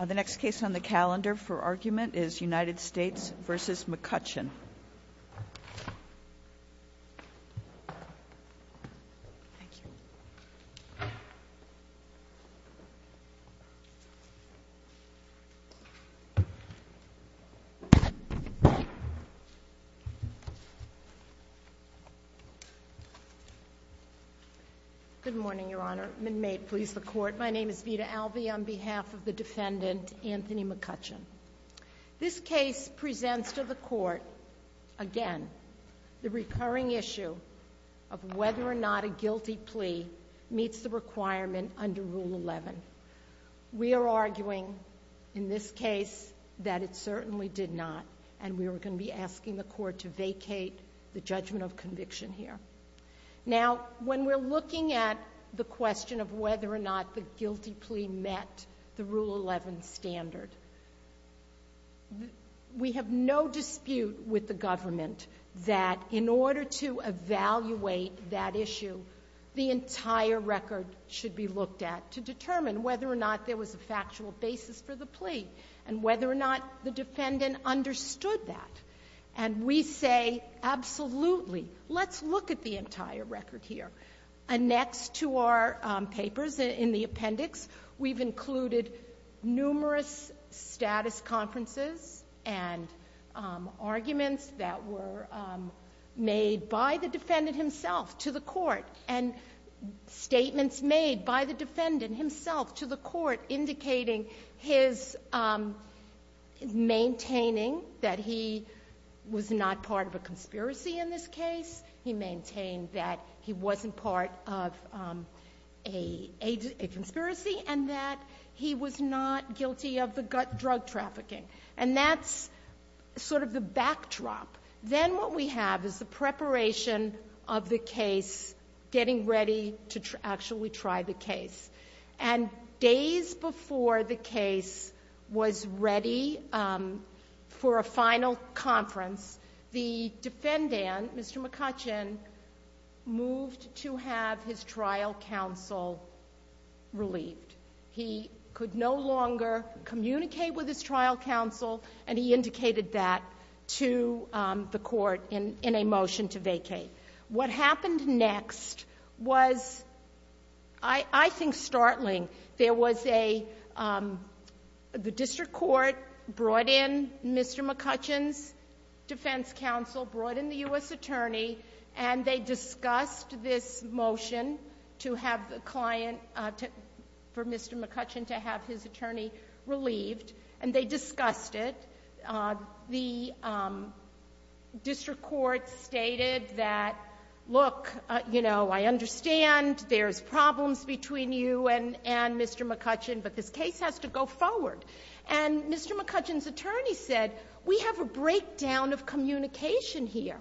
The next case on the calendar for argument is United States v. McCutcheon. Good morning, Your Honor, and may it please the Court, my name is Vida Alvey on behalf of the defendant, Anthony McCutcheon. This case presents to the Court, again, the recurring issue of whether or not a guilty plea meets the requirement under Rule 11. We are arguing in this case that it certainly did not, and we are going to be asking the Court to vacate the judgment of conviction here. Now when we're looking at the question of whether or not the guilty plea met the Rule 11 standard, we have no dispute with the government that in order to evaluate that issue, the entire record should be looked at to determine whether or not there was a factual basis for the plea, and whether or not the defendant understood that. And we say, absolutely, let's look at the entire record here, and next to our papers in the appendix, we've included numerous status conferences and arguments that were made by the defendant himself to the Court, and statements made by the defendant himself to the Court indicating his maintaining that he was not part of a conspiracy in this case, he maintained that he wasn't part of a conspiracy, and that he was not guilty of the drug trafficking. And that's sort of the backdrop. Then what we have is the preparation of the case, getting ready to actually try the case. And days before the case was ready for a final conference, the defendant, Mr. McCutcheon, moved to have his trial counsel relieved. He could no longer communicate with his trial counsel, and he indicated that to the Court in a motion to vacate. What happened next was, I think, startling. There was a, the District Court brought in Mr. McCutcheon's defense counsel, brought in the U.S. attorney, and they discussed this motion to have the client, for Mr. McCutcheon to have his attorney relieved, and they discussed it. The District Court stated that, look, you know, I understand there's problems between you and Mr. McCutcheon, but this case has to go forward. And Mr. McCutcheon's attorney said, we have a breakdown of communication here.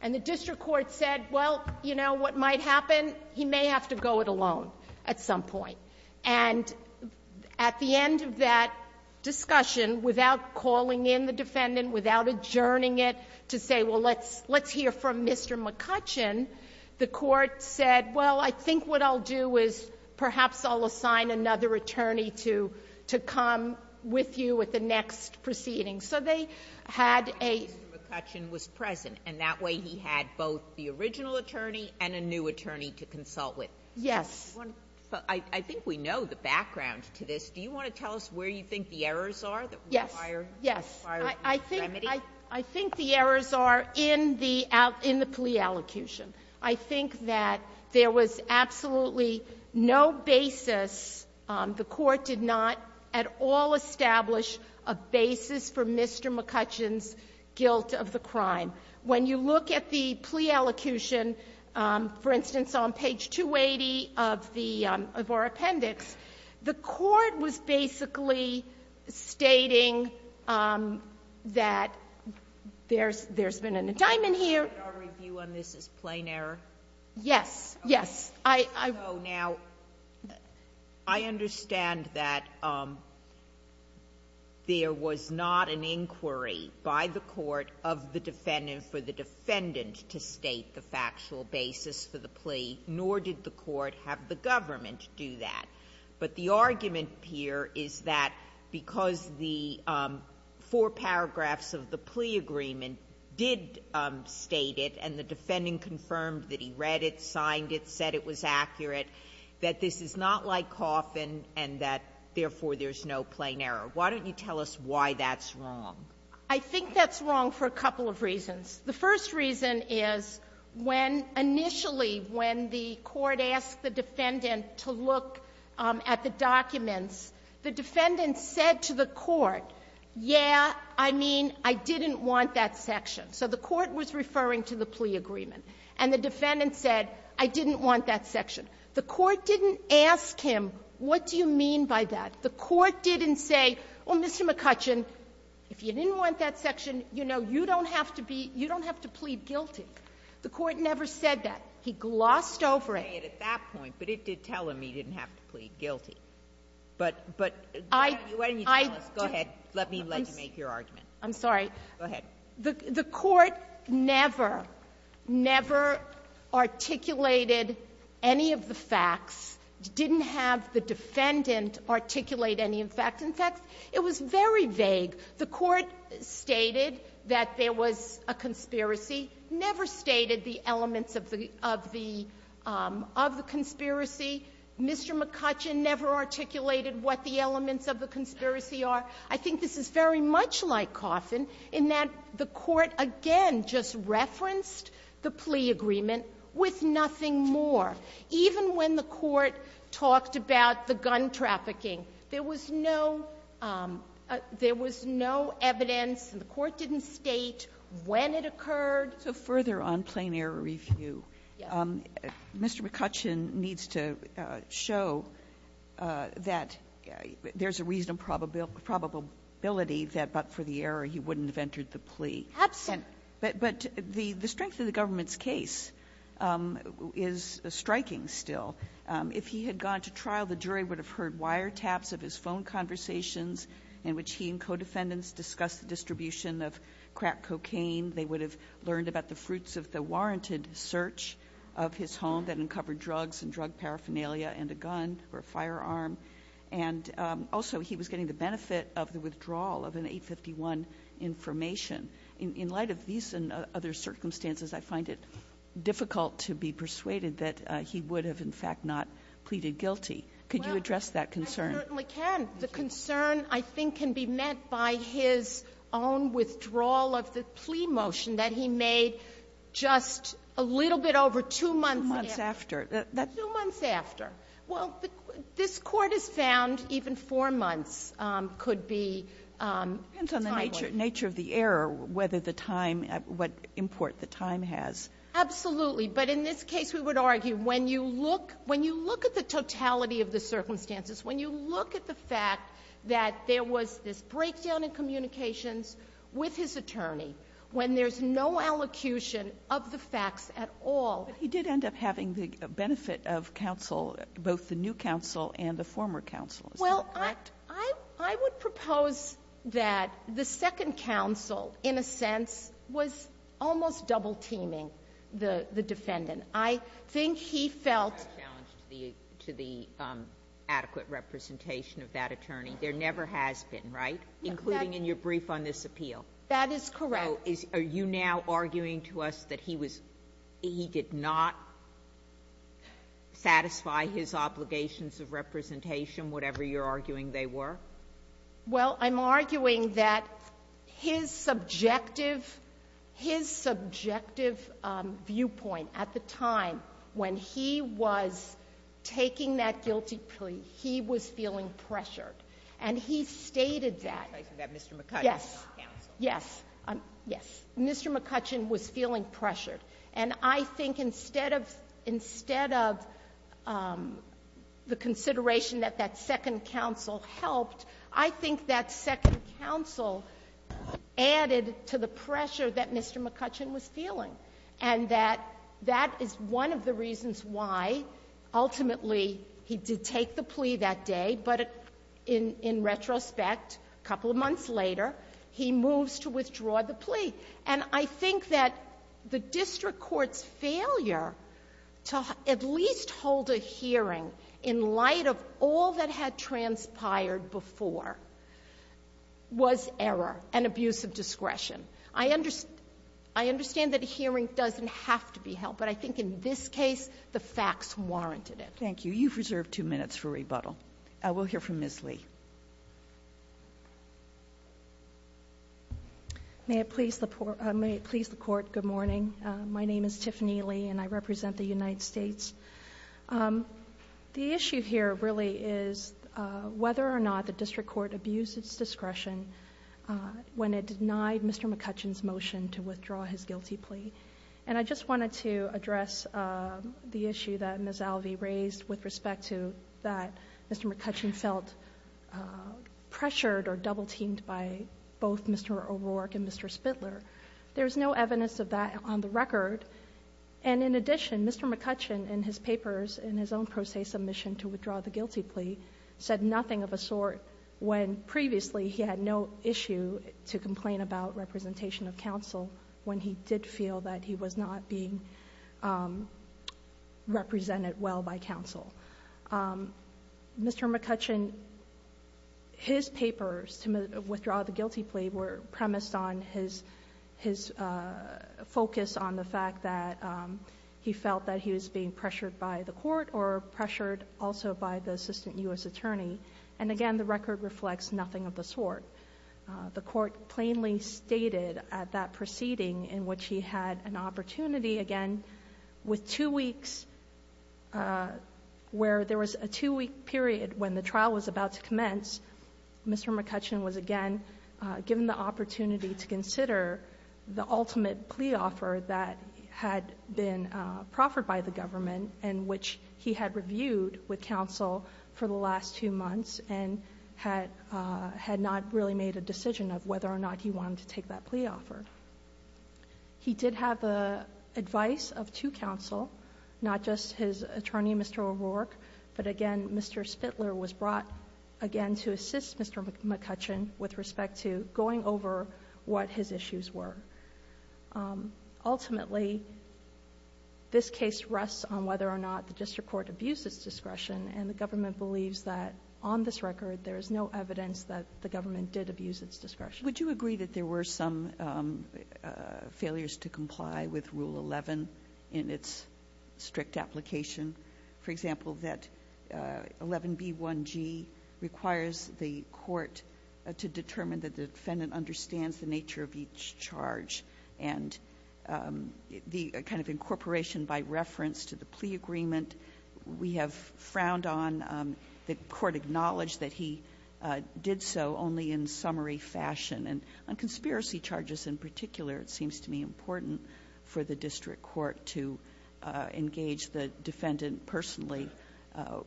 And the District Court said, well, you know, what might happen, he may have to go it alone at some point. And at the end of that discussion, without calling in the defendant, without adjourning it, to say, well, let's hear from Mr. McCutcheon, the Court said, well, I think what I'll do is perhaps I'll assign another attorney to come with you at the next proceeding. So they had a ---- Sotomayor, Mr. McCutcheon was present, and that way he had both the original attorney and a new attorney to consult with. Yes. I think we know the background to this. Do you want to tell us where you think the errors are that require this remedy? Yes. I think the errors are in the plea allocution. I think that there was absolutely no basis, the Court did not at all establish a basis for Mr. McCutcheon's guilt of the crime. When you look at the plea allocution, for instance, on page 280 of the ---- of our appendix, the Court was basically stating that there's been an indictment here. And our review on this is plain error? Yes. Yes. I ---- So, now, I understand that there was not an inquiry by the Court of the defendant for the defendant to state the factual basis for the plea, nor did the Court have the government do that. But the argument here is that because the four paragraphs of the plea agreement did state it, and the defendant confirmed that he read it, signed it, said it was accurate, that this is not like Coffin, and that, therefore, there's no plain error. Why don't you tell us why that's wrong? I think that's wrong for a couple of reasons. The first reason is when initially, when the Court asked the defendant to look at the So the Court was referring to the plea agreement. And the defendant said, I didn't want that section. The Court didn't ask him, what do you mean by that? The Court didn't say, oh, Mr. McCutcheon, if you didn't want that section, you know, you don't have to be ---- you don't have to plead guilty. The Court never said that. He glossed over it. I didn't say it at that point, but it did tell him he didn't have to plead guilty. But why don't you tell us? Go ahead. Let me let you make your argument. I'm sorry. Go ahead. The Court never, never articulated any of the facts, didn't have the defendant articulate any of the facts. In fact, it was very vague. The Court stated that there was a conspiracy, never stated the elements of the conspiracy. Mr. McCutcheon never articulated what the elements of the conspiracy are. I think this is very much like Coffin, in that the Court, again, just referenced the plea agreement with nothing more. Even when the Court talked about the gun trafficking, there was no ---- there was no evidence, and the Court didn't state when it occurred. So further on plain-error review, Mr. McCutcheon needs to show that there's a reasonable probability that, but for the error, he wouldn't have entered the plea. Absent. But the strength of the government's case is striking still. If he had gone to trial, the jury would have heard wiretaps of his phone conversations in which he and co-defendants discussed the distribution of crack cocaine. They would have learned about the fruits of the warranted search of his home that uncovered drugs and drug paraphernalia and a gun or a firearm. And also, he was getting the benefit of the withdrawal of an 851 information. In light of these and other circumstances, I find it difficult to be persuaded that he would have, in fact, not pleaded guilty. Could you address that concern? Well, I certainly can. The concern, I think, can be met by his own withdrawal of the plea motion that he made just a little bit over two months after. Two months after. Two months after. Well, this Court has found even four months could be timely. It depends on the nature of the error, whether the time, what import the time has. Absolutely. But in this case, we would argue when you look at the totality of the circumstances, when you look at the fact that there was this breakdown in communications with his attorney, when there's no allocution of the facts at all. But he did end up having the benefit of counsel, both the new counsel and the former counsel. Is that correct? Well, I would propose that the second counsel, in a sense, was almost double-teaming the defendant. I think he felt the attorney. There never has been, right, including in your brief on this appeal? That is correct. So are you now arguing to us that he did not satisfy his obligations of representation, whatever you're arguing they were? Well, I'm arguing that his subjective viewpoint at the time when he was taking that guilty plea, he was feeling pressured. And he stated that. I'm sorry, you said Mr. McCutcheon was not counsel. Yes. Yes. Mr. McCutcheon was feeling pressured. And I think instead of the consideration that that second counsel helped, I think that second counsel added to the pressure that Mr. McCutcheon was feeling. And that that is one of the reasons why, ultimately, he did take the plea that day. But in retrospect, a couple of months later, he moves to withdraw the plea. And I think that the district court's failure to at least hold a hearing in light of all that had transpired before was error and abuse of discretion. I understand that a hearing doesn't have to be held, but I think in this case, the facts warranted it. Thank you. You've reserved two minutes for rebuttal. We'll hear from Ms. Lee. May it please the Court, good morning. My name is Tiffany Lee, and I represent the United States. The issue here really is whether or not the district court abused its discretion when it denied Mr. McCutcheon's motion to withdraw his guilty plea. And I just wanted to address the issue that Ms. Alvey raised with respect to that Mr. McCutcheon felt pressured or double-teamed by both Mr. O'Rourke and Mr. Spindler. There's no evidence of that on the record. And in addition, Mr. McCutcheon, in his papers, in his own pro se submission to withdraw the guilty plea, said nothing of a sort when previously he had no issue to complain about representation of counsel when he did feel that he was not being represented well by counsel. Mr. McCutcheon, his papers to withdraw the guilty plea were premised on his focus on the fact that he felt that he was being pressured by the court or pressured also by the assistant U.S. attorney. And again, the record reflects nothing of the sort. The court plainly stated at that proceeding in which he had an opportunity, again, with two weeks where there was a two-week period when the trial was about to commence. Mr. McCutcheon was again given the opportunity to consider the ultimate plea offer that had been proffered by the government and which he had reviewed with counsel for the last two months and had not really made a decision of whether or not he wanted to take that plea offer. He did have the advice of two counsel, not just his attorney, Mr. O'Rourke. But again, Mr. Spitler was brought, again, to assist Mr. McCutcheon with respect to going over what his issues were. Ultimately, this case rests on whether or not the district court abused its discretion, and the government believes that on this record there is no evidence that the government did abuse its discretion. Kagan. Would you agree that there were some failures to comply with Rule 11 in its strict application? For example, that 11b1g requires the court to determine that the defendant understands the nature of each charge and the kind of incorporation by reference to the plea agreement. We have frowned on the court acknowledged that he did so only in summary fashion and on conspiracy charges in particular, it seems to me important for the district court to engage the defendant personally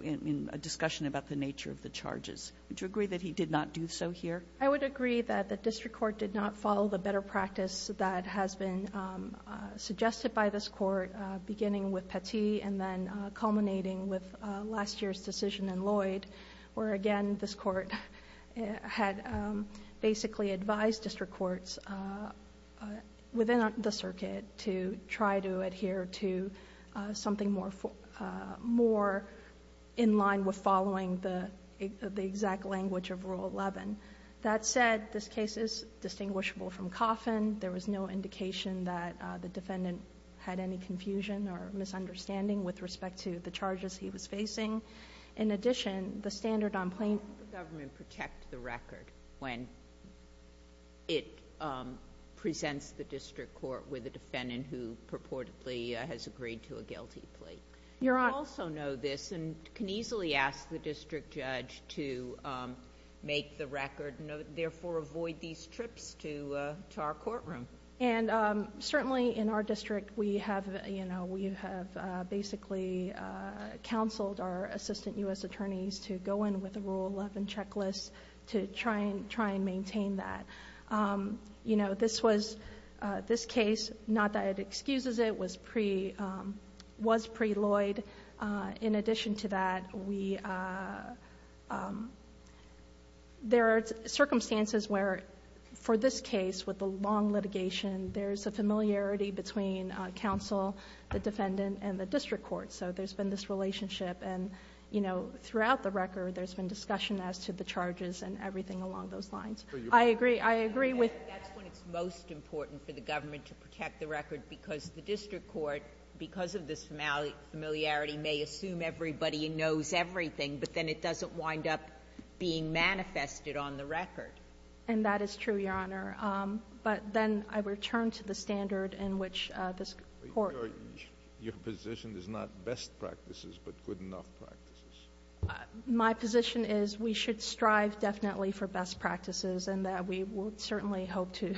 in a discussion about the nature of the charges. Would you agree that he did not do so here? I would agree that the district court did not follow the better practice that has been suggested by this court, beginning with Petit and then culminating with last year's decision in Lloyd, where again this court had basically advised district courts within the circuit to try to adhere to something more in line with following the exact language of Rule 11. That said, this case is distinguishable from Coffin. There was no indication that the defendant had any confusion or misunderstanding with respect to the charges he was facing. In addition, the standard on plaintiff's plea agreement does not include any of the Sotomayor, does the government protect the record when it presents the district court with a defendant who purportedly has agreed to a guilty plea? Your Honor, we also know this and can easily ask the district judge to make the record, therefore avoid these trips to our courtroom. And certainly in our district, we have, you know, we have basically counseled our assistant U.S. attorneys to go in with a Rule 11 checklist to try and maintain that. You know, this case, not that it excuses it, was pre-Lloyd. In addition to that, there are circumstances where, for this case, with the long litigation, there's a familiarity between counsel, the defendant, and the district court. So there's been this relationship, and, you know, throughout the record, there's been discussion as to the charges and everything along those lines. I agree, I agree with And that's when it's most important for the government to protect the record, because the district court, because of this familiarity, may assume everybody knows everything, but then it doesn't wind up being manifested on the record. And that is true, Your Honor. But then I return to the standard in which this Court Your position is not best practices, but good enough practices. My position is we should strive definitely for best practices, and that we will certainly hope to,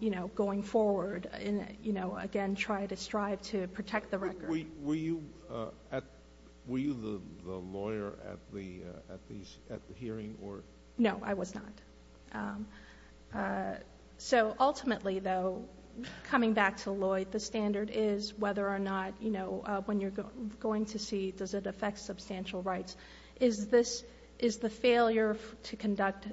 you know, going forward, you know, again, try to strive to protect the record. Were you the lawyer at the hearing? No, I was not. So ultimately, though, coming back to Lloyd, the standard is whether or not, you know, when you're going to see, does it affect substantial rights? Is this the failure to conduct?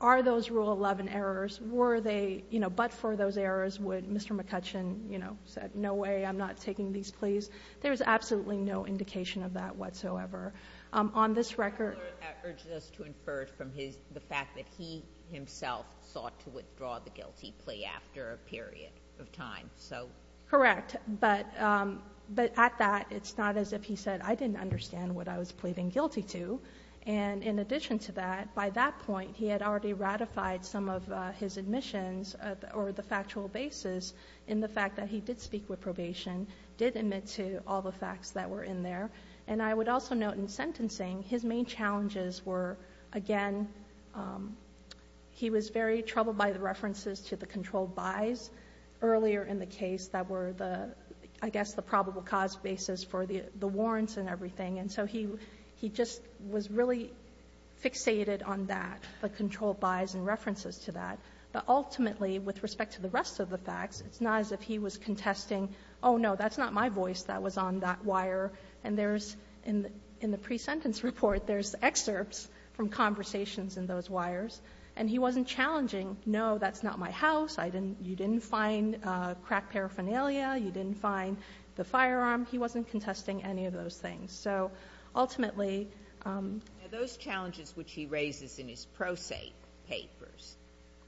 Are those Rule 11 errors? Were they, you know, but for those errors, would Mr. McCutcheon, you know, said, no way, I'm not taking these pleas? There's absolutely no indication of that whatsoever. On this record The Court urges us to infer from his, the fact that he himself sought to withdraw the guilty plea after a period of time. So. Correct. But at that, it's not as if he said, I didn't understand what I was pleading guilty to. And in addition to that, by that point, he had already ratified some of his admissions or the factual basis in the fact that he did speak with probation, did admit to all the facts that were in there. And I would also note in sentencing, his main challenges were, again, he was very troubled by the references to the controlled buys earlier in the case that were the, I guess, the probable cause basis for the warrants and everything. And so he just was really fixated on that, the controlled buys and references to that. But ultimately, with respect to the rest of the facts, it's not as if he was contesting, oh, no, that's not my voice that was on that wire. And there's, in the pre-sentence report, there's excerpts from conversations in those wires. And he wasn't challenging, no, that's not my house, I didn't, you didn't find crack paraphernalia, you didn't find the firearm. He wasn't contesting any of those things. So ultimately. Those challenges which he raises in his pro se papers,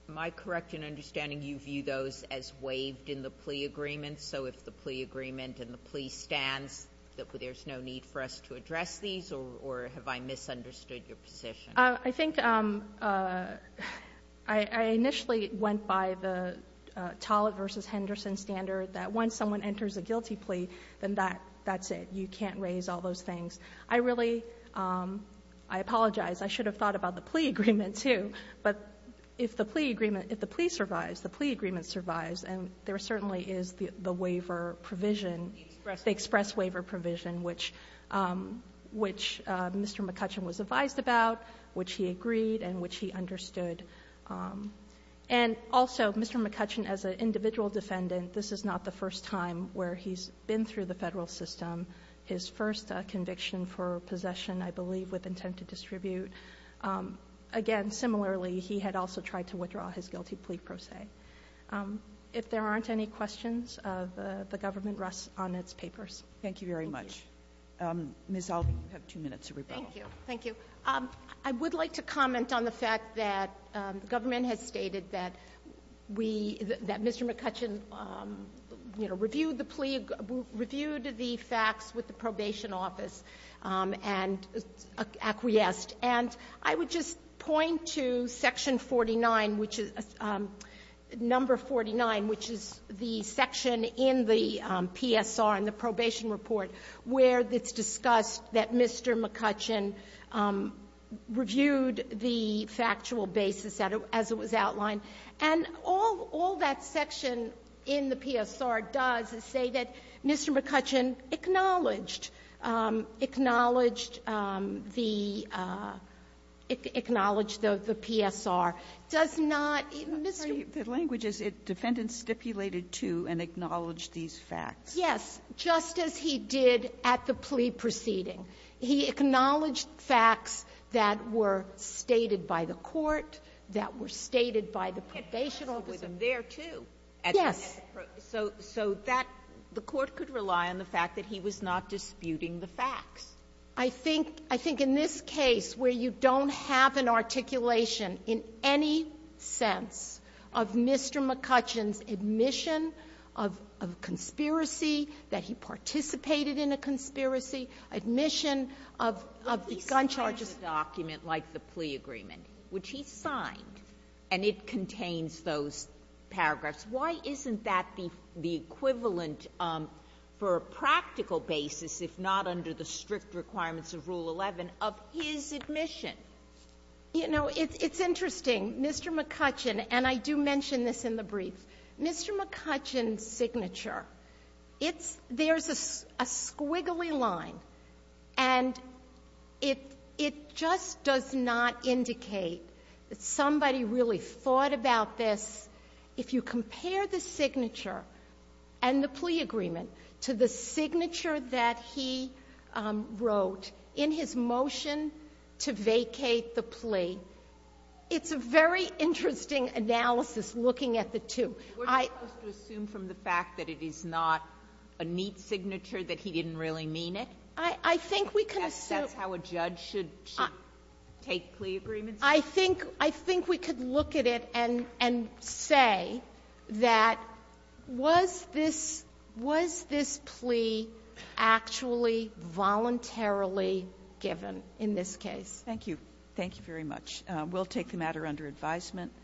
am I correct in understanding you view those as waived in the plea agreement? So if the plea agreement and the plea stands, there's no need for us to address these? Or have I misunderstood your position? O'Connell. I think I initially went by the Tollett v. Henderson standard that once someone enters a guilty plea, then that's it. You can't raise all those things. I really, I apologize, I should have thought about the plea agreement, too. But if the plea agreement, if the plea survives, the plea agreement survives, and there certainly is the waiver provision, the express waiver provision, which Mr. McCutcheon was advised about, which he agreed, and which he understood. And also, Mr. McCutcheon, as an individual defendant, this is not the first time where he's been through the Federal system. His first conviction for possession, I believe, with intent to distribute. Again, similarly, he had also tried to withdraw his guilty plea pro se. If there aren't any questions, the government rests on its papers. Thank you very much. Ms. Alvey, you have two minutes to rebuttal. Thank you. Thank you. I would like to comment on the fact that the government has stated that we, that Mr. McCutcheon, you know, reviewed the plea, reviewed the facts with the probation office, and acquiesced. And I would just point to Section 49, which is the section in the PSR, in the Probation Report, where it's discussed that Mr. McCutcheon reviewed the factual basis as it was outlined. And all that section in the PSR does is say that Mr. McCutcheon acknowledged the PSR, acknowledged the PSR, does not Mr. McCutcheon. The language is defendants stipulated to and acknowledged these facts. Yes. Just as he did at the plea proceeding. He acknowledged facts that were stated by the court, that were stated by the probation office. There, too. Yes. So that the court could rely on the fact that he was not disputing the facts. I think in this case where you don't have an articulation in any sense of Mr. McCutcheon's admission of conspiracy, that he participated in a conspiracy, admission of the gun charges. But he signed a document like the plea agreement, which he signed, and it contains those paragraphs. Why isn't that the equivalent for a practical basis, if not under the strict requirements of Rule 11, of his admission? You know, it's interesting. Mr. McCutcheon, and I do mention this in the brief, Mr. McCutcheon's signature, it's — there's a squiggly line, and it just does not indicate that somebody really thought about this. If you compare the signature and the plea agreement to the signature that he wrote in his motion to vacate the plea, it's a very interesting analysis looking at the two. I — Were you supposed to assume from the fact that it is not a neat signature that he didn't really mean it? I think we can assume — That's how a judge should take plea agreements? I think — I think we could look at it and say that was this — was this plea actually voluntarily given in this case? Thank you. Thank you very much. We'll take the matter under advisement.